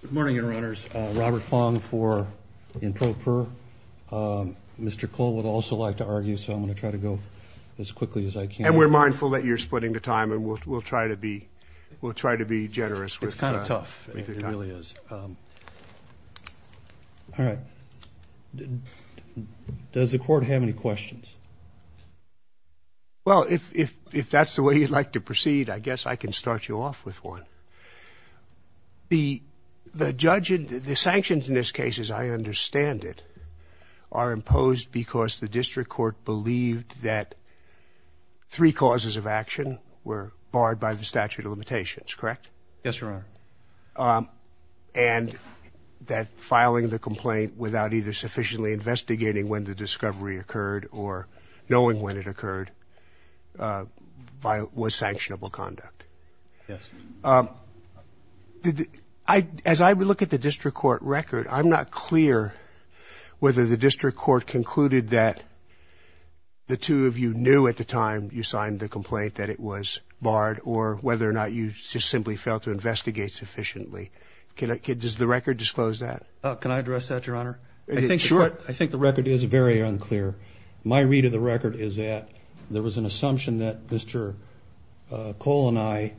Good morning, Your Honors. Robert Fong for Introper. Mr. Cole would also like to argue, so I'm going to try to go as quickly as I can. And we're mindful that you're splitting the time, and we'll try to be generous with the time. It's kind of tough. It really is. All right. Does the Court have any questions? Well, if that's the way you'd like to proceed, I guess I can start you off with one. The sanctions in this case, as I understand it, are imposed because the District Court believed that three causes of action were barred by the statute of limitations, correct? Yes, Your Honor. And that filing the complaint without either sufficiently investigating when the discovery occurred or knowing when it occurred was sanctionable conduct. Yes. As I look at the District Court record, I'm not clear whether the District Court concluded that the two of you knew at the time you signed the complaint that it was barred or whether or not you just simply failed to investigate sufficiently. Does the record disclose that? Can I address that, Your Honor? Sure. I think the record is very unclear. My read of the record is that there was an assumption that Mr. Cole and I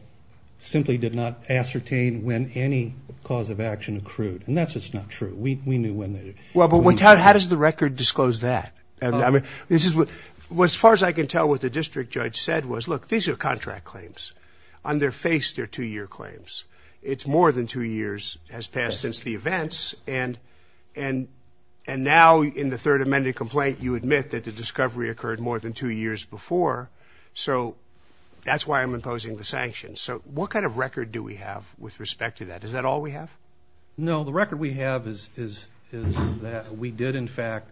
simply did not ascertain when any cause of action accrued. And that's just not true. We knew when they did. Well, but how does the record disclose that? As far as I can tell, what the district judge said was, look, these are contract claims. On their face, they're two-year claims. It's more than two years has passed since the events. And now in the third amended complaint, you admit that the discovery occurred more than two years before. So that's why I'm imposing the sanctions. So what kind of record do we have with respect to that? Is that all we have? No. The record we have is that we did, in fact,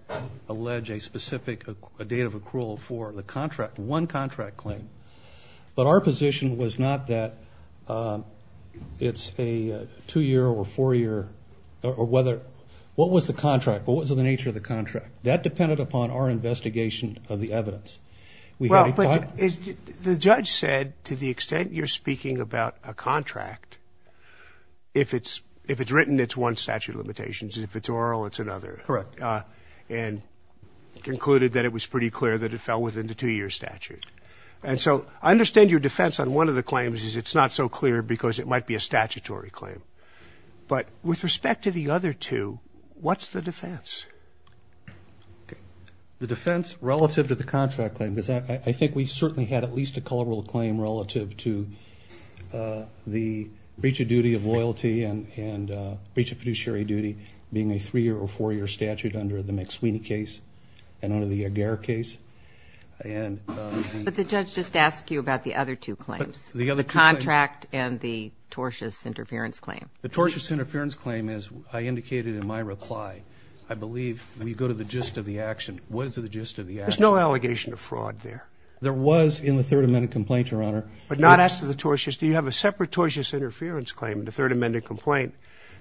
allege a specific date of accrual for the contract, one contract claim. But our position was not that it's a two-year or four-year or whether – what was the contract? What was the nature of the contract? That depended upon our investigation of the evidence. Well, but the judge said to the extent you're speaking about a contract, if it's written, it's one statute of limitations. If it's oral, it's another. Correct. And concluded that it was pretty clear that it fell within the two-year statute. And so I understand your defense on one of the claims is it's not so clear because it might be a statutory claim. But with respect to the other two, what's the defense? The defense relative to the contract claim is I think we certainly had at least a colorable claim relative to the breach of duty of loyalty and breach of fiduciary duty being a three-year or four-year statute under the McSweeny case and under the Agar case. But the judge just asked you about the other two claims, the contract and the tortious interference claim. The tortious interference claim, as I indicated in my reply, I believe when you go to the gist of the action, what is the gist of the action? There's no allegation of fraud there. There was in the Third Amendment complaint, Your Honor. But not as to the tortious. Do you have a separate tortious interference claim in the Third Amendment complaint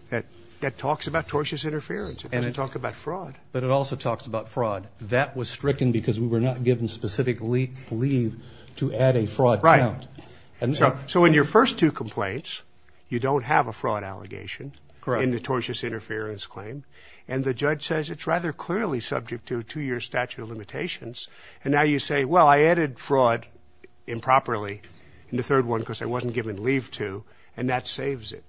that talks about tortious interference? But it also talks about fraud. That was stricken because we were not given specific leave to add a fraud count. Right. So in your first two complaints, you don't have a fraud allegation in the tortious interference claim. And the judge says it's rather clearly subject to a two-year statute of limitations. And now you say, well, I added fraud improperly in the third one because I wasn't given leave to, and that saves it.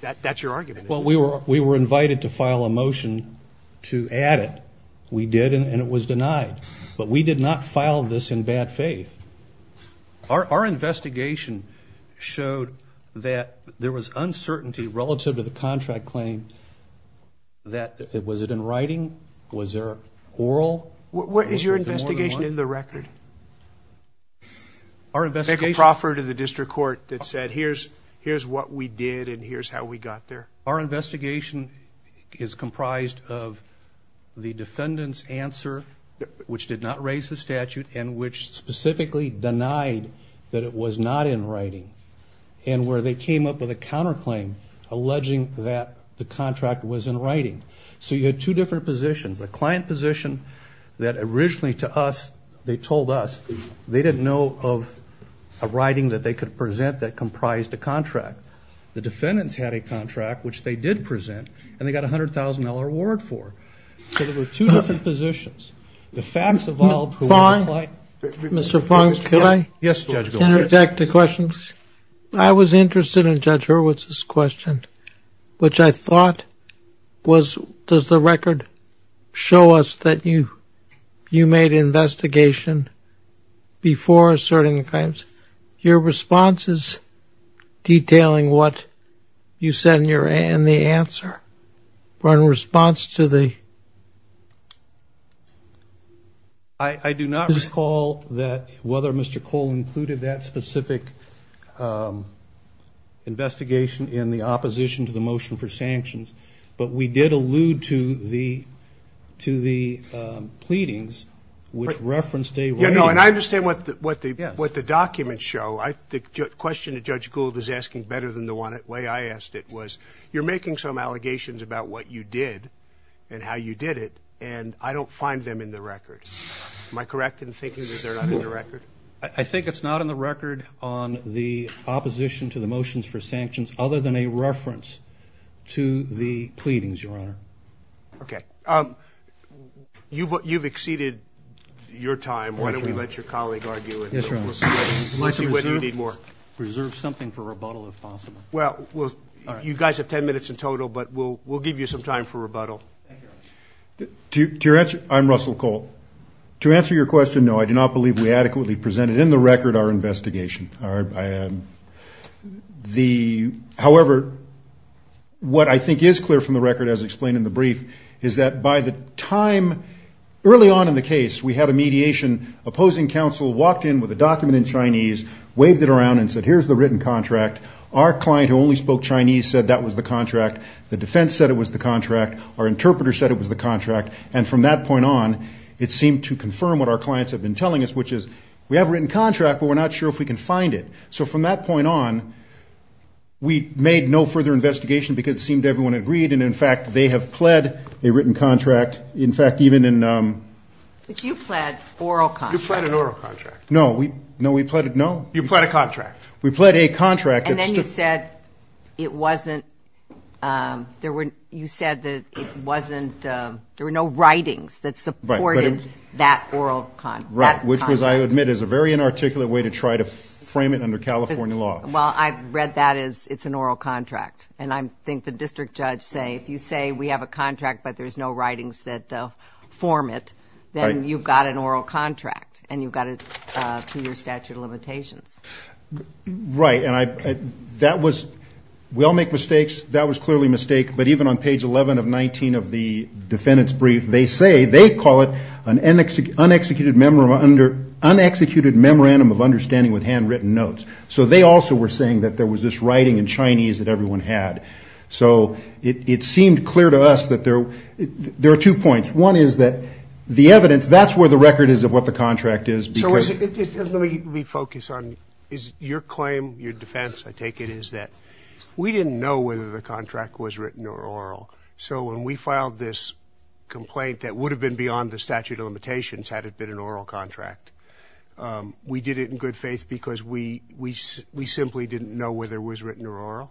That's your argument, isn't it? Well, we were invited to file a motion to add it. We did, and it was denied. But we did not file this in bad faith. Our investigation showed that there was uncertainty relative to the contract claim. Was it in writing? Was there oral? Is your investigation in the record? Michael Crawford of the district court that said, here's what we did, and here's how we got there. Our investigation is comprised of the defendant's answer, which did not raise the statute, and which specifically denied that it was not in writing, and where they came up with a counterclaim alleging that the contract was in writing. So you had two different positions. A client position that originally to us, they told us, they didn't know of a writing that they could present that comprised a contract. The defendants had a contract, which they did present, and they got a $100,000 reward for. So there were two different positions. The facts evolved. Mr. Fong, could I interject a question? I was interested in Judge Hurwitz's question, which I thought was, does the record show us that you made an investigation before asserting the claims? Your response is detailing what you said in the answer. In response to the question. I do not recall whether Mr. Cole included that specific investigation in the opposition to the motion for sanctions, but we did allude to the pleadings, which referenced a writing. I understand what the documents show. The question that Judge Gould is asking better than the way I asked it was, you're making some allegations about what you did and how you did it, and I don't find them in the record. Am I correct in thinking that they're not in the record? I think it's not in the record on the opposition to the motions for sanctions, other than a reference to the pleadings, Your Honor. Okay. You've exceeded your time. Why don't we let your colleague argue it. Yes, Your Honor. We'll see whether you need more. Reserve something for rebuttal, if possible. Well, you guys have ten minutes in total, but we'll give you some time for rebuttal. To your answer, I'm Russell Cole. To answer your question, no, I do not believe we adequately presented in the record our investigation. However, what I think is clear from the record, as explained in the brief, is that by the time early on in the case, we had a mediation opposing counsel, walked in with a document in Chinese, waved it around and said, here's the written contract. Our client, who only spoke Chinese, said that was the contract. The defense said it was the contract. Our interpreter said it was the contract. And from that point on, it seemed to confirm what our clients have been telling us, which is we have a written contract, but we're not sure if we can find it. So from that point on, we made no further investigation because it seemed everyone agreed. And, in fact, they have pled a written contract. In fact, even in ‑‑ But you pled oral contract. You pled an oral contract. No. No, we pled a ‑‑ no. You pled a contract. We pled a contract. And then you said it wasn't ‑‑ you said that it wasn't ‑‑ there were no writings that supported that oral contract. Right, which was, I admit, is a very inarticulate way to try to frame it under California law. Well, I read that as it's an oral contract. And I think the district judge say if you say we have a contract but there's no writings that form it, then you've got an oral contract and you've got a two‑year statute of limitations. Right. And I ‑‑ that was ‑‑ we all make mistakes. That was clearly a mistake. But even on page 11 of 19 of the defendant's brief, they say they call it an unexecuted memorandum of understanding with handwritten notes. So they also were saying that there was this writing in Chinese that everyone had. So it seemed clear to us that there are two points. One is that the evidence, that's where the record is of what the contract is. So let me focus on your claim, your defense, I take it, is that we didn't know whether the contract was written or oral. So when we filed this complaint that would have been beyond the statute of limitations had it been an oral contract, we did it in good faith because we simply didn't know whether it was written or oral?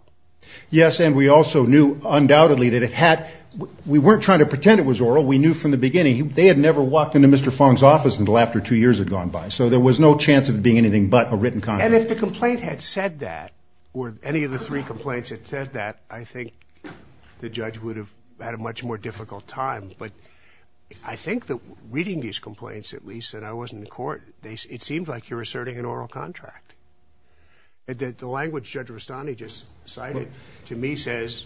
Yes, and we also knew undoubtedly that it had ‑‑ we weren't trying to pretend it was oral. We knew from the beginning. They had never walked into Mr. Fong's office until after two years had gone by. So there was no chance of it being anything but a written contract. And if the complaint had said that, or any of the three complaints had said that, I think the judge would have had a much more difficult time. But I think that reading these complaints, at least, that I was in court, it seems like you're asserting an oral contract. The language Judge Rustani just cited to me says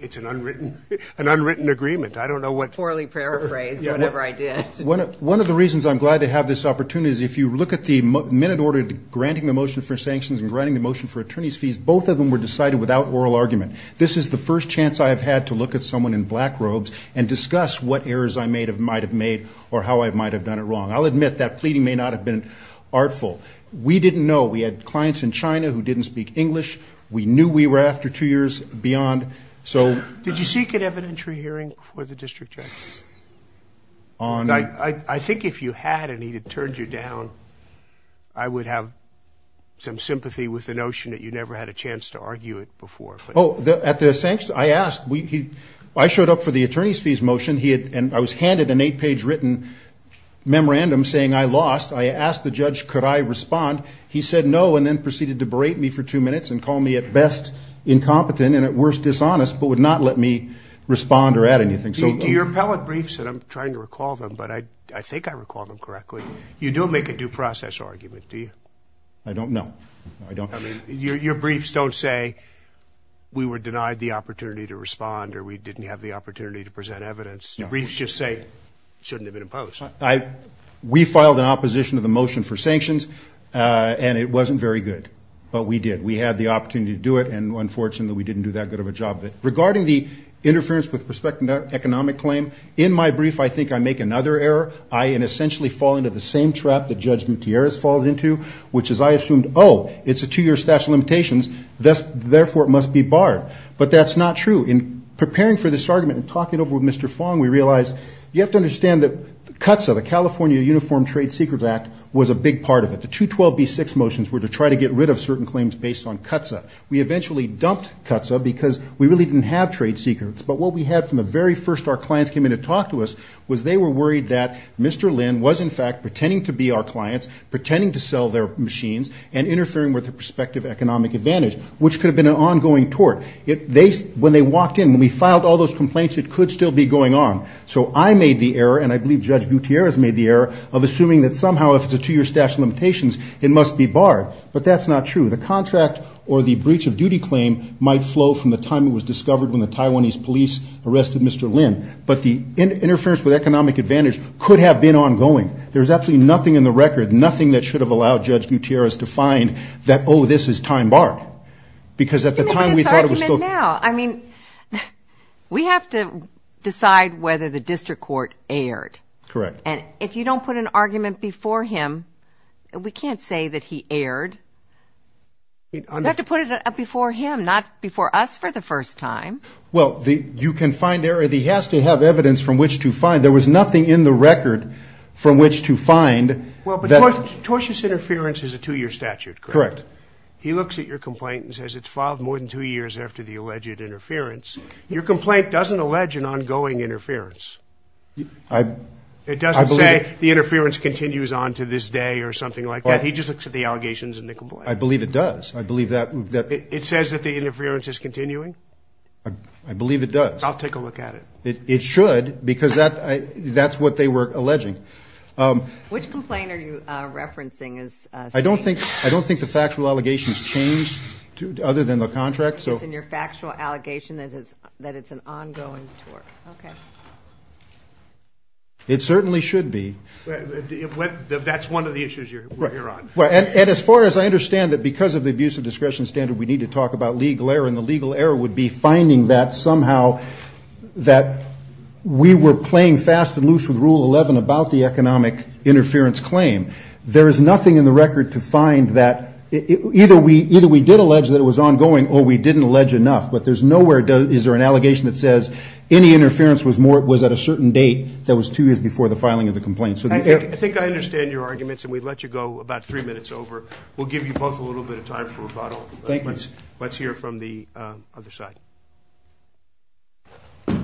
it's an unwritten agreement. I don't know what ‑‑ Poorly paraphrased, whatever I did. One of the reasons I'm glad to have this opportunity is if you look at the minute order granting the motion for sanctions and granting the motion for attorney's fees, both of them were decided without oral argument. This is the first chance I have had to look at someone in black robes and discuss what errors I might have made or how I might have done it wrong. I'll admit that pleading may not have been artful. We didn't know. We had clients in China who didn't speak English. We knew we were after two years beyond. Did you seek an evidentiary hearing for the district judge? I think if you had and he had turned you down, I would have some sympathy with the notion that you never had a chance to argue it before. Oh, at the sanctions, I asked. I showed up for the attorney's fees motion, and I was handed an eight‑page written memorandum saying I lost. I asked the judge could I respond. He said no and then proceeded to berate me for two minutes and call me at best incompetent and at worst dishonest but would not let me respond or add anything. Your appellate briefs, and I'm trying to recall them, but I think I recall them correctly, you do make a due process argument, do you? I don't know. Your briefs don't say we were denied the opportunity to respond or we didn't have the opportunity to present evidence. Briefs just say it shouldn't have been imposed. We filed an opposition to the motion for sanctions, and it wasn't very good, but we did. We had the opportunity to do it, and unfortunately we didn't do that good of a job. Regarding the interference with prospective economic claim, in my brief I think I make another error. I essentially fall into the same trap that Judge Mutierrez falls into, which is I assumed, oh, it's a two‑year statute of limitations, therefore it must be barred. But that's not true. In preparing for this argument and talking over with Mr. Fong, we realized you have to understand that CUTSA, the California Uniform Trade Secrets Act, was a big part of it. The 212B6 motions were to try to get rid of certain claims based on CUTSA. We eventually dumped CUTSA because we really didn't have trade secrets. But what we had from the very first our clients came in to talk to us was they were worried that Mr. Lynn was, in fact, pretending to be our clients, pretending to sell their machines, and interfering with the prospective economic advantage, which could have been an ongoing tort. When they walked in, when we filed all those complaints, it could still be going on. So I made the error, and I believe Judge Mutierrez made the error, of assuming that somehow if it's a two‑year statute of limitations, it must be barred. But that's not true. The contract or the breach of duty claim might flow from the time it was discovered when the Taiwanese police arrested Mr. Lynn. But the interference with economic advantage could have been ongoing. There's absolutely nothing in the record, nothing that should have allowed Judge Mutierrez to find that, oh, this is time barred. Because at the time we thought it was still ‑‑ Let me make this argument now. I mean, we have to decide whether the district court erred. Correct. And if you don't put an argument before him, we can't say that he erred. You have to put it before him, not before us for the first time. Well, you can find error. He has to have evidence from which to find. There was nothing in the record from which to find. Well, but tortious interference is a two‑year statute, correct? Correct. He looks at your complaint and says it's filed more than two years after the alleged interference. Your complaint doesn't allege an ongoing interference. It doesn't say the interference continues on to this day or something like that. He just looks at the allegations in the complaint. I believe it does. I believe that. It says that the interference is continuing? I believe it does. I'll take a look at it. It should because that's what they were alleging. Which complaint are you referencing? I don't think the factual allegations change other than the contract. It's in your factual allegation that it's an ongoing tort. Okay. It certainly should be. That's one of the issues you're on. And as far as I understand it, because of the abuse of discretion standard, we need to talk about legal error, and the legal error would be finding that somehow that we were playing fast and loose with Rule 11 about the economic interference claim. There is nothing in the record to find that either we did allege that it was ongoing or we didn't allege enough. But there's nowhere is there an allegation that says any interference was at a certain date that was two years before the filing of the complaint. I think I understand your arguments, and we'd let you go about three minutes over. We'll give you both a little bit of time for rebuttal. Let's hear from the other side. Good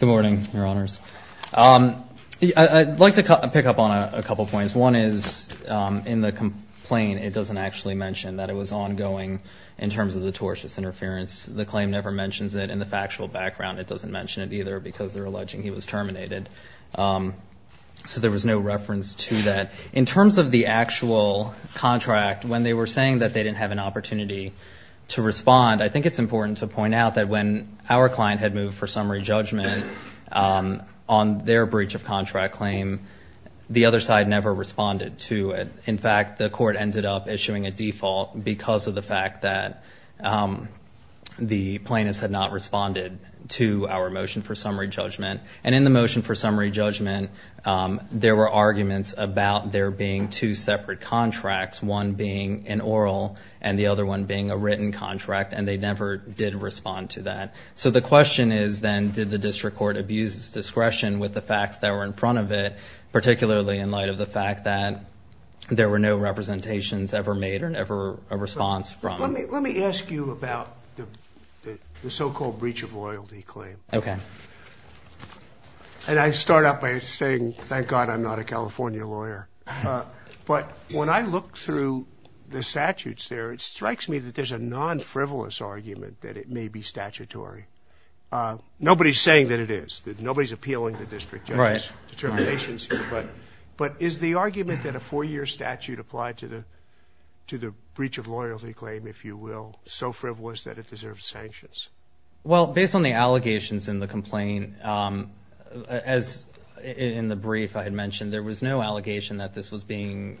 morning, Your Honors. I'd like to pick up on a couple points. One is in the complaint it doesn't actually mention that it was ongoing in terms of the tortious interference. The claim never mentions it. In the factual background it doesn't mention it either because they're alleging he was terminated. So there was no reference to that. In terms of the actual contract, when they were saying that they didn't have an opportunity to respond, I think it's important to point out that when our client had moved for summary judgment on their breach of contract claim, the other side never responded to it. In fact, the court ended up issuing a default because of the fact that the plaintiffs had not responded to our motion for summary judgment. And in the motion for summary judgment, there were arguments about there being two separate contracts, one being an oral and the other one being a written contract, and they never did respond to that. So the question is then did the district court abuse its discretion with the facts that were in front of it, particularly in light of the fact that there were no representations ever made or never a response from it? Let me ask you about the so-called breach of loyalty claim. Okay. And I start out by saying, thank God I'm not a California lawyer. But when I look through the statutes there, it strikes me that there's a non-frivolous argument that it may be statutory. Nobody's saying that it is. Nobody's appealing the district judge's determinations here. But is the argument that a four-year statute applied to the breach of loyalty claim, if you will, so frivolous that it deserves sanctions? Well, based on the allegations in the complaint, as in the brief I had mentioned, there was no allegation that this was being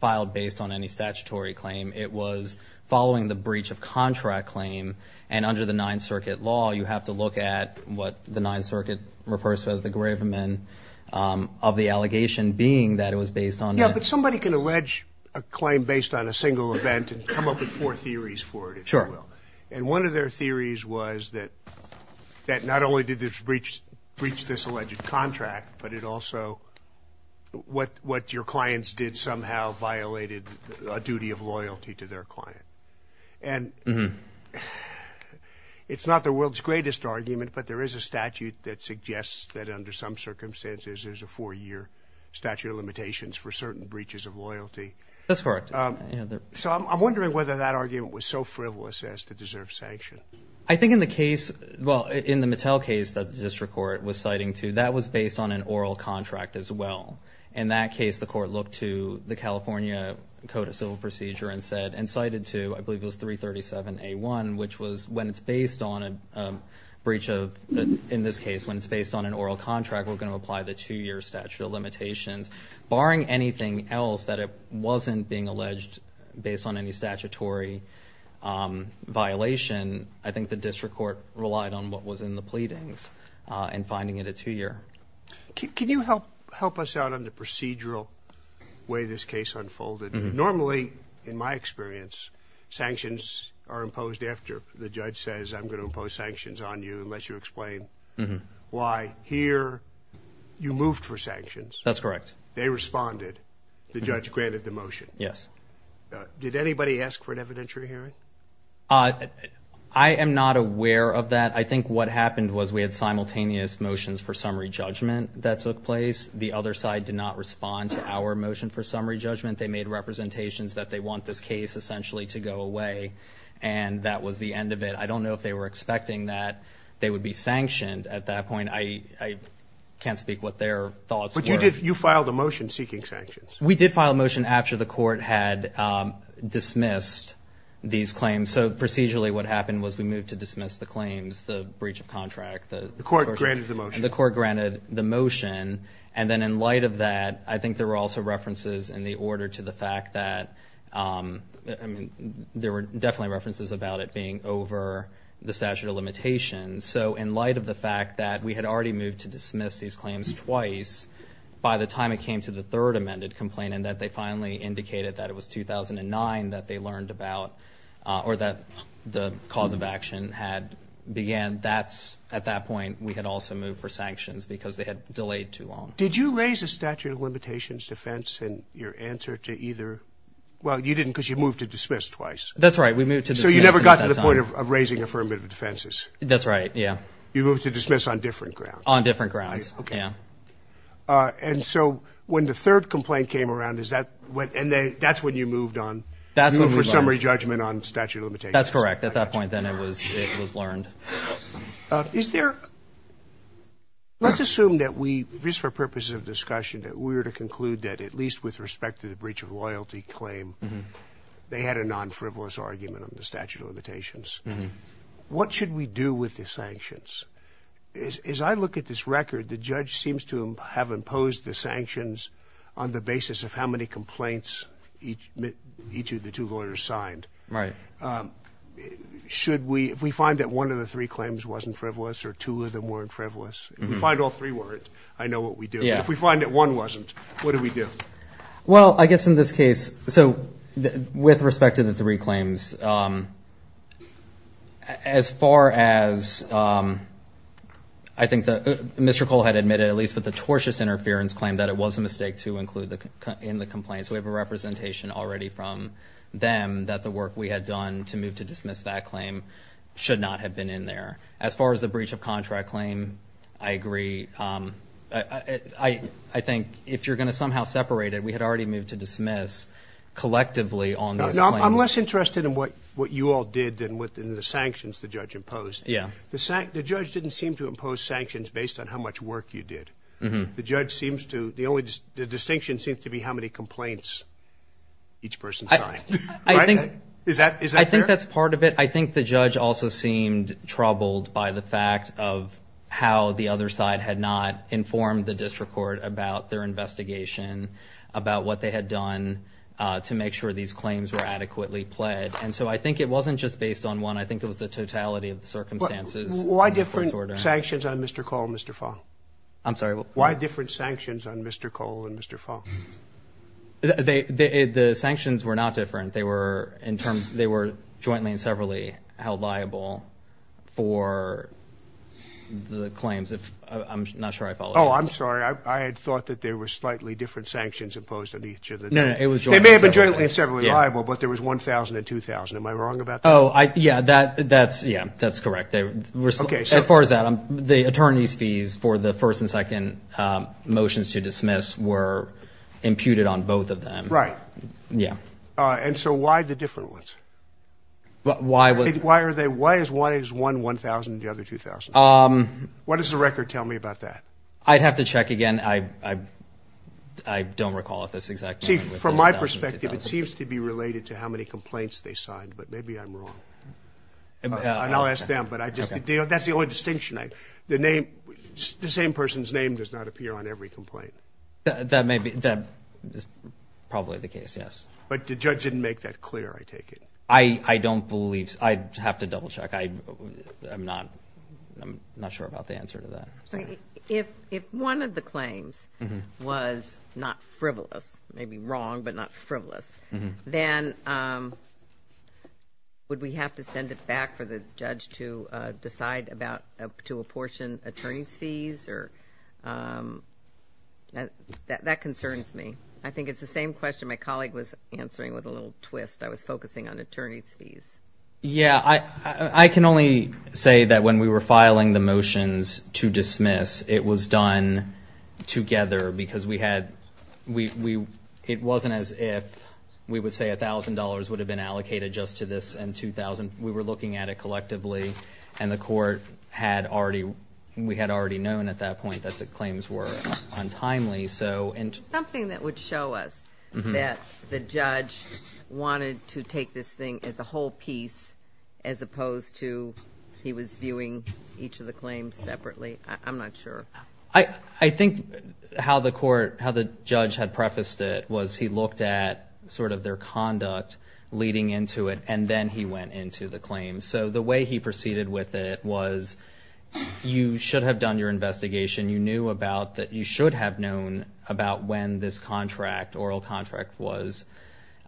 filed based on any statutory claim. It was following the breach of contract claim. And under the Ninth Circuit law, you have to look at what the Ninth Circuit refers to as the gravemen, of the allegation being that it was based on that. Yeah, but somebody can allege a claim based on a single event and come up with four theories for it, if you will. Sure. And one of their theories was that not only did this breach this alleged contract, but it also what your clients did somehow violated a duty of loyalty to their client. And it's not the world's greatest argument, but there is a statute that suggests that under some circumstances there's a four-year statute of limitations for certain breaches of loyalty. That's correct. So I'm wondering whether that argument was so frivolous as to deserve sanction. I think in the case, well, in the Mattel case that the district court was citing too, that was based on an oral contract as well. In that case, the court looked to the California Code of Civil Procedure and said, and cited to, I believe it was 337A1, which was when it's based on a breach of, in this case, when it's based on an oral contract, we're going to apply the two-year statute of limitations, barring anything else that wasn't being alleged based on any statutory violation. I think the district court relied on what was in the pleadings in finding it a two-year. Can you help us out on the procedural way this case unfolded? Normally, in my experience, sanctions are imposed after the judge says, I'm going to impose sanctions on you unless you explain why here you moved for sanctions. That's correct. They responded. The judge granted the motion. Yes. Did anybody ask for an evidentiary hearing? I am not aware of that. I think what happened was we had simultaneous motions for summary judgment that took place. The other side did not respond to our motion for summary judgment. They made representations that they want this case essentially to go away, and that was the end of it. I don't know if they were expecting that they would be sanctioned at that point. I can't speak what their thoughts were. But you filed a motion seeking sanctions. We did file a motion after the court had dismissed these claims. So procedurally what happened was we moved to dismiss the claims, the breach of contract. The court granted the motion. The court granted the motion. And then in light of that, I think there were also references in the order to the fact that, I mean, there were definitely references about it being over the statute of limitations. So in light of the fact that we had already moved to dismiss these claims twice by the time it came to the third amended complaint and that they finally indicated that it was 2009 that they learned about or that the cause of action had began, at that point we had also moved for sanctions because they had delayed too long. Did you raise the statute of limitations defense in your answer to either? Well, you didn't because you moved to dismiss twice. That's right. We moved to dismiss at that time. That's the point of raising affirmative defenses. That's right, yeah. You moved to dismiss on different grounds. On different grounds, yeah. Okay. And so when the third complaint came around, and that's when you moved on. That's when we moved on. You moved for summary judgment on statute of limitations. That's correct. At that point then it was learned. Is there, let's assume that we, just for purposes of discussion, that we were to conclude that at least with respect to the breach of loyalty claim, they had a non-frivolous argument on the statute of limitations. What should we do with the sanctions? As I look at this record, the judge seems to have imposed the sanctions on the basis of how many complaints each of the two lawyers signed. Right. Should we, if we find that one of the three claims wasn't frivolous or two of them weren't frivolous, if we find all three weren't, I know what we do. If we find that one wasn't, what do we do? Well, I guess in this case, so with respect to the three claims, as far as I think Mr. Cole had admitted, at least with the tortious interference claim that it was a mistake to include in the complaint. So we have a representation already from them that the work we had done to move to dismiss that claim should not have been in there. As far as the breach of contract claim, I agree. I think if you're going to somehow separate it, we had already moved to dismiss collectively on those claims. I'm less interested in what you all did than what the sanctions the judge imposed. Yeah. The judge didn't seem to impose sanctions based on how much work you did. The judge seems to, the distinction seems to be how many complaints each person signed. I think. Is that fair? I think that's part of it. I think the judge also seemed troubled by the fact of how the other side had not informed the district court about their investigation, about what they had done to make sure these claims were adequately pled. And so I think it wasn't just based on one. I think it was the totality of the circumstances. Why different sanctions on Mr. Cole and Mr. Fong? I'm sorry. Why different sanctions on Mr. Cole and Mr. Fong? The sanctions were not different. They were jointly and severally held liable for the claims. I'm not sure I followed. Oh, I'm sorry. I had thought that there were slightly different sanctions imposed on each of the two. No, no, it was jointly and severally. They may have been jointly and severally liable, but there was 1,000 and 2,000. Am I wrong about that? Oh, yeah, that's correct. As far as that, the attorney's fees for the first and second motions to dismiss were imputed on both of them. Right. Yeah. And so why the different ones? Why are they? Why is one 1,000 and the other 2,000? What does the record tell me about that? I'd have to check again. I don't recall if that's exactly right. See, from my perspective, it seems to be related to how many complaints they signed, but maybe I'm wrong. And I'll ask them, but that's the only distinction. The same person's name does not appear on every complaint. That is probably the case, yes. But the judge didn't make that clear, I take it. I don't believe so. I'd have to double-check. I'm not sure about the answer to that. If one of the claims was not frivolous, maybe wrong, but not frivolous, then would we have to send it back for the judge to decide to apportion attorney's fees? That concerns me. I think it's the same question my colleague was answering with a little twist. I was focusing on attorney's fees. Yeah. I can only say that when we were filing the motions to dismiss, it was done together because it wasn't as if we would say $1,000 would have been allocated just to this and $2,000. We were looking at it collectively, and the court had already known at that point that the claims were untimely. Something that would show us that the judge wanted to take this thing as a whole piece as opposed to he was viewing each of the claims separately. I'm not sure. I think how the judge had prefaced it was he looked at their conduct leading into it, and then he went into the claim. The way he proceeded with it was you should have done your investigation. You knew about that you should have known about when this oral contract was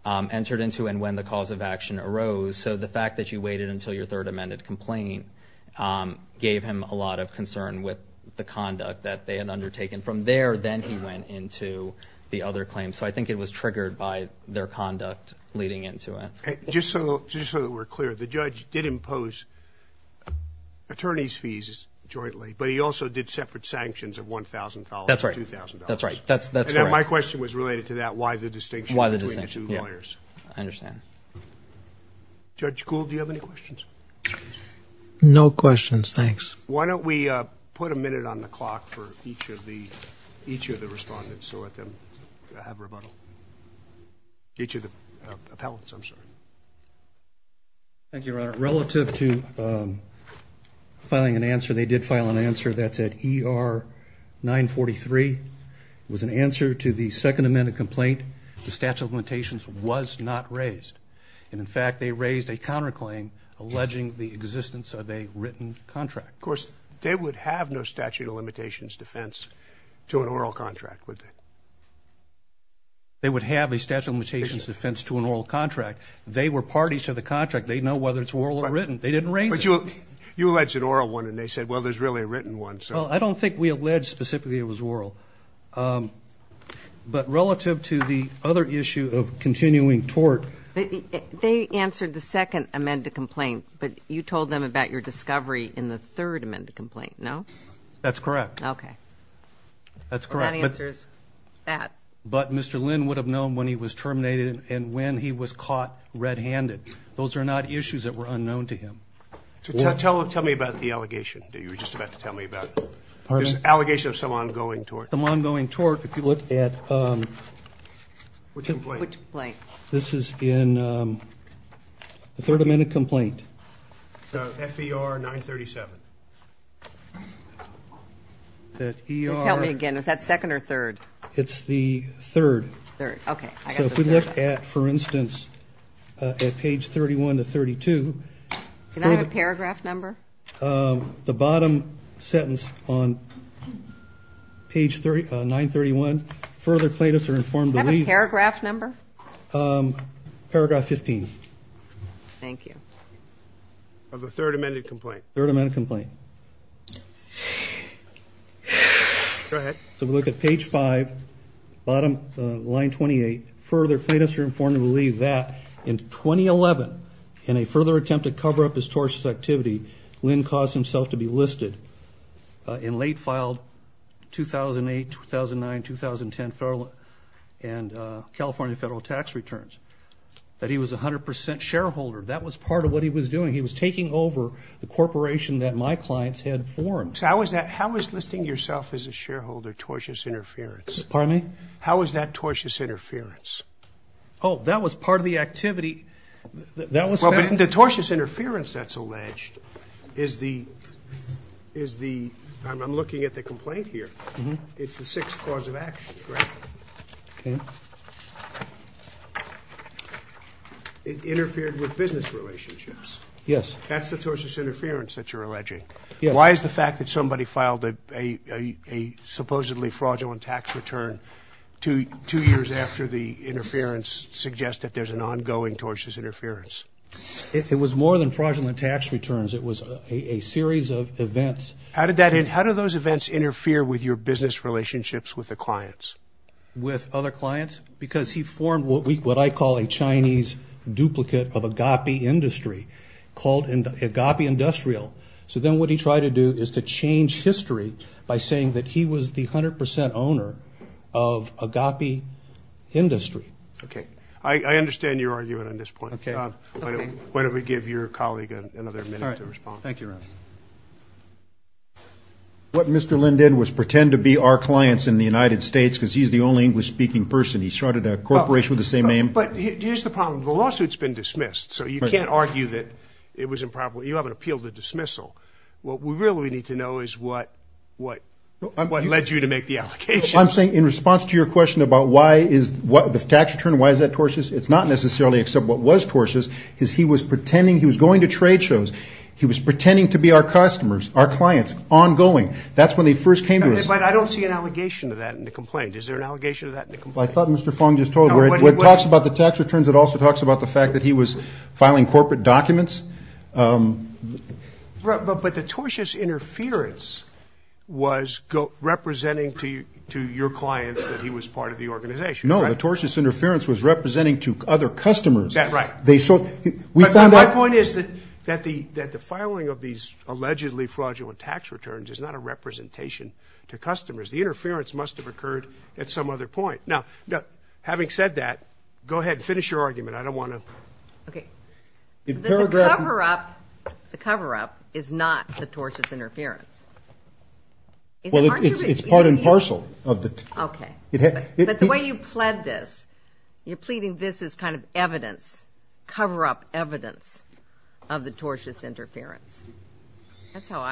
entered into and when the cause of action arose. So the fact that you waited until your third amended complaint gave him a lot of concern with the conduct that they had undertaken. From there, then he went into the other claim. So I think it was triggered by their conduct leading into it. Just so that we're clear, the judge did impose attorney's fees jointly, but he also did separate sanctions of $1,000 and $2,000. That's right. That's correct. My question was related to that, why the distinction between the two lawyers. I understand. Judge Gould, do you have any questions? No questions, thanks. Why don't we put a minute on the clock for each of the respondents so that they have rebuttal. Each of the appellants, I'm sorry. Thank you, Your Honor. Relative to filing an answer, they did file an answer. That's at ER 943. It was an answer to the second amended complaint. The statute of limitations was not raised. And, in fact, they raised a counterclaim alleging the existence of a written contract. Of course, they would have no statute of limitations defense to an oral contract, would they? They would have a statute of limitations defense to an oral contract. They were parties to the contract. They know whether it's oral or written. They didn't raise it. But you alleged an oral one, and they said, well, there's really a written one. Well, I don't think we alleged specifically it was oral. But relative to the other issue of continuing tort. They answered the second amended complaint, but you told them about your discovery in the third amended complaint, no? That's correct. That's correct. Well, that answers that. But Mr. Lynn would have known when he was terminated and when he was caught red-handed. Those are not issues that were unknown to him. Tell me about the allegation that you were just about to tell me about. Pardon? Allegation of some ongoing tort. Some ongoing tort. If you look at... Which complaint? This is in the third amended complaint. FER 937. Let's help me again. Is that second or third? It's the third. Third, okay. So if we look at, for instance, at page 31 to 32... Can I have a paragraph number? The bottom sentence on page 931, further plaintiffs are informed to leave... Can I have a paragraph number? Paragraph 15. Thank you. Of the third amended complaint. Third amended complaint. Go ahead. So if we look at page 5, bottom line 28... Further plaintiffs are informed to leave that... In 2011, in a further attempt to cover up his tortious activity... Lynn caused himself to be listed... In late filed 2008, 2009, 2010 federal and California federal tax returns. That he was 100% shareholder. That was part of what he was doing. He was taking over the corporation that my clients had formed. How is listing yourself as a shareholder tortious interference? Pardon me? How is that tortious interference? Oh, that was part of the activity... The tortious interference that's alleged is the... I'm looking at the complaint here. It's the sixth cause of action, correct? Okay. It interfered with business relationships. Yes. That's the tortious interference that you're alleging. Why is the fact that somebody filed a supposedly fraudulent tax return two years after the interference suggest that there's an ongoing tortious interference? It was more than fraudulent tax returns. It was a series of events. How did those events interfere with your business relationships with the clients? With other clients? Because he formed what I call a Chinese duplicate of agape industry, called agape industrial. So then what he tried to do is to change history by saying that he was the 100 percent owner of agape industry. Okay. I understand your argument on this point. Okay. Why don't we give your colleague another minute to respond. All right. Thank you, Ron. What Mr. Lin did was pretend to be our clients in the United States because he's the only English-speaking person. He started a corporation with the same name. But here's the problem. The lawsuit's been dismissed, so you can't argue that it was improper. You haven't appealed the dismissal. What we really need to know is what led you to make the allegations. I'm saying in response to your question about why is the tax return, why is that tortious, it's not necessarily except what was tortious is he was pretending he was going to trade shows. He was pretending to be our customers, our clients, ongoing. That's when they first came to us. But I don't see an allegation to that in the complaint. Is there an allegation to that in the complaint? I thought Mr. Fong just told you. No, but he would. When it talks about the tax returns, it also talks about the fact that he was filing corporate documents. But the tortious interference was representing to your clients that he was part of the organization. No, the tortious interference was representing to other customers. That's right. My point is that the filing of these allegedly fraudulent tax returns is not a representation to customers. The interference must have occurred at some other point. Now, having said that, go ahead and finish your argument. I don't want to. Okay. The paragraph. The cover-up is not the tortious interference. Well, it's part and parcel of the. Okay. But the way you pled this, you're pleading this as kind of evidence, cover-up evidence of the tortious interference. That's how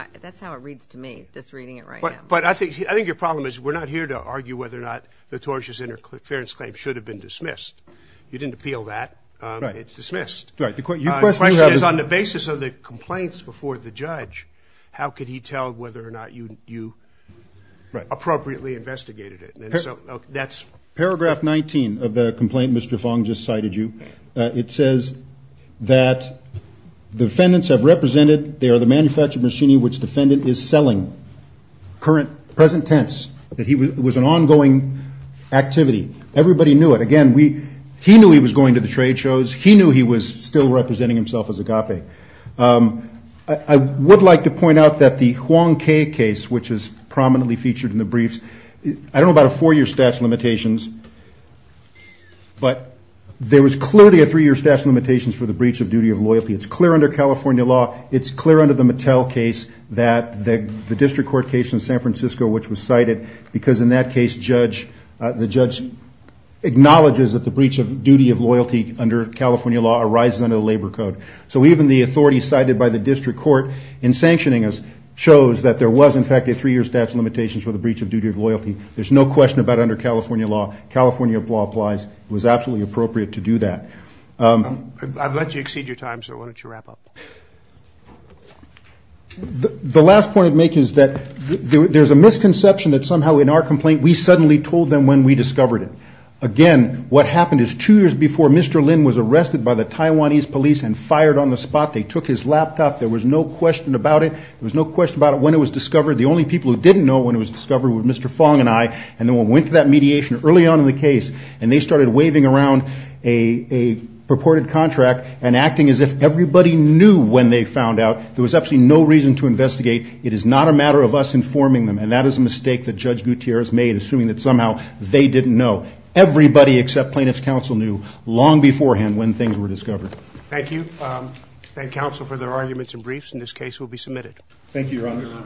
it reads to me, just reading it right now. But I think your problem is we're not here to argue whether or not the tortious interference claim should have been dismissed. You didn't appeal that. It's dismissed. Right. The question is on the basis of the complaints before the judge, how could he tell whether or not you appropriately investigated it? And so that's. Paragraph 19 of the complaint Mr. Fong just cited you. It says that the defendants have represented. They are the manufactured machinery which defendant is selling. Current present tense that he was an ongoing activity. Everybody knew it. Again, we he knew he was going to the trade shows. He knew he was still representing himself as a copy. I would like to point out that the Hwang K case, which is prominently featured in the briefs. I don't know about a four-year statute of limitations. But there was clearly a three-year statute of limitations for the breach of duty of loyalty. It's clear under California law. It's clear under the Mattel case that the district court case in San Francisco, which was cited, because in that case judge, the judge acknowledges that the breach of duty of loyalty under California law arises under the labor code. So even the authority cited by the district court in sanctioning us shows that there was, in fact, a three-year statute of limitations for the breach of duty of loyalty. There's no question about it under California law. California law applies. It was absolutely appropriate to do that. I've let you exceed your time, so why don't you wrap up. The last point I'd make is that there's a misconception that somehow in our complaint we suddenly told them when we discovered it. Again, what happened is two years before Mr. Lin was arrested by the Taiwanese police and fired on the spot, they took his laptop. There was no question about it when it was discovered. The only people who didn't know when it was discovered were Mr. Fong and I, and then we went to that mediation early on in the case, and they started waving around a purported contract and acting as if everybody knew when they found out. There was absolutely no reason to investigate. It is not a matter of us informing them, and that is a mistake that Judge Gutierrez made, assuming that somehow they didn't know. Everybody except plaintiff's counsel knew long beforehand when things were discovered. Thank you. Thank counsel for their arguments and briefs. And this case will be submitted. Thank you, Your Honor.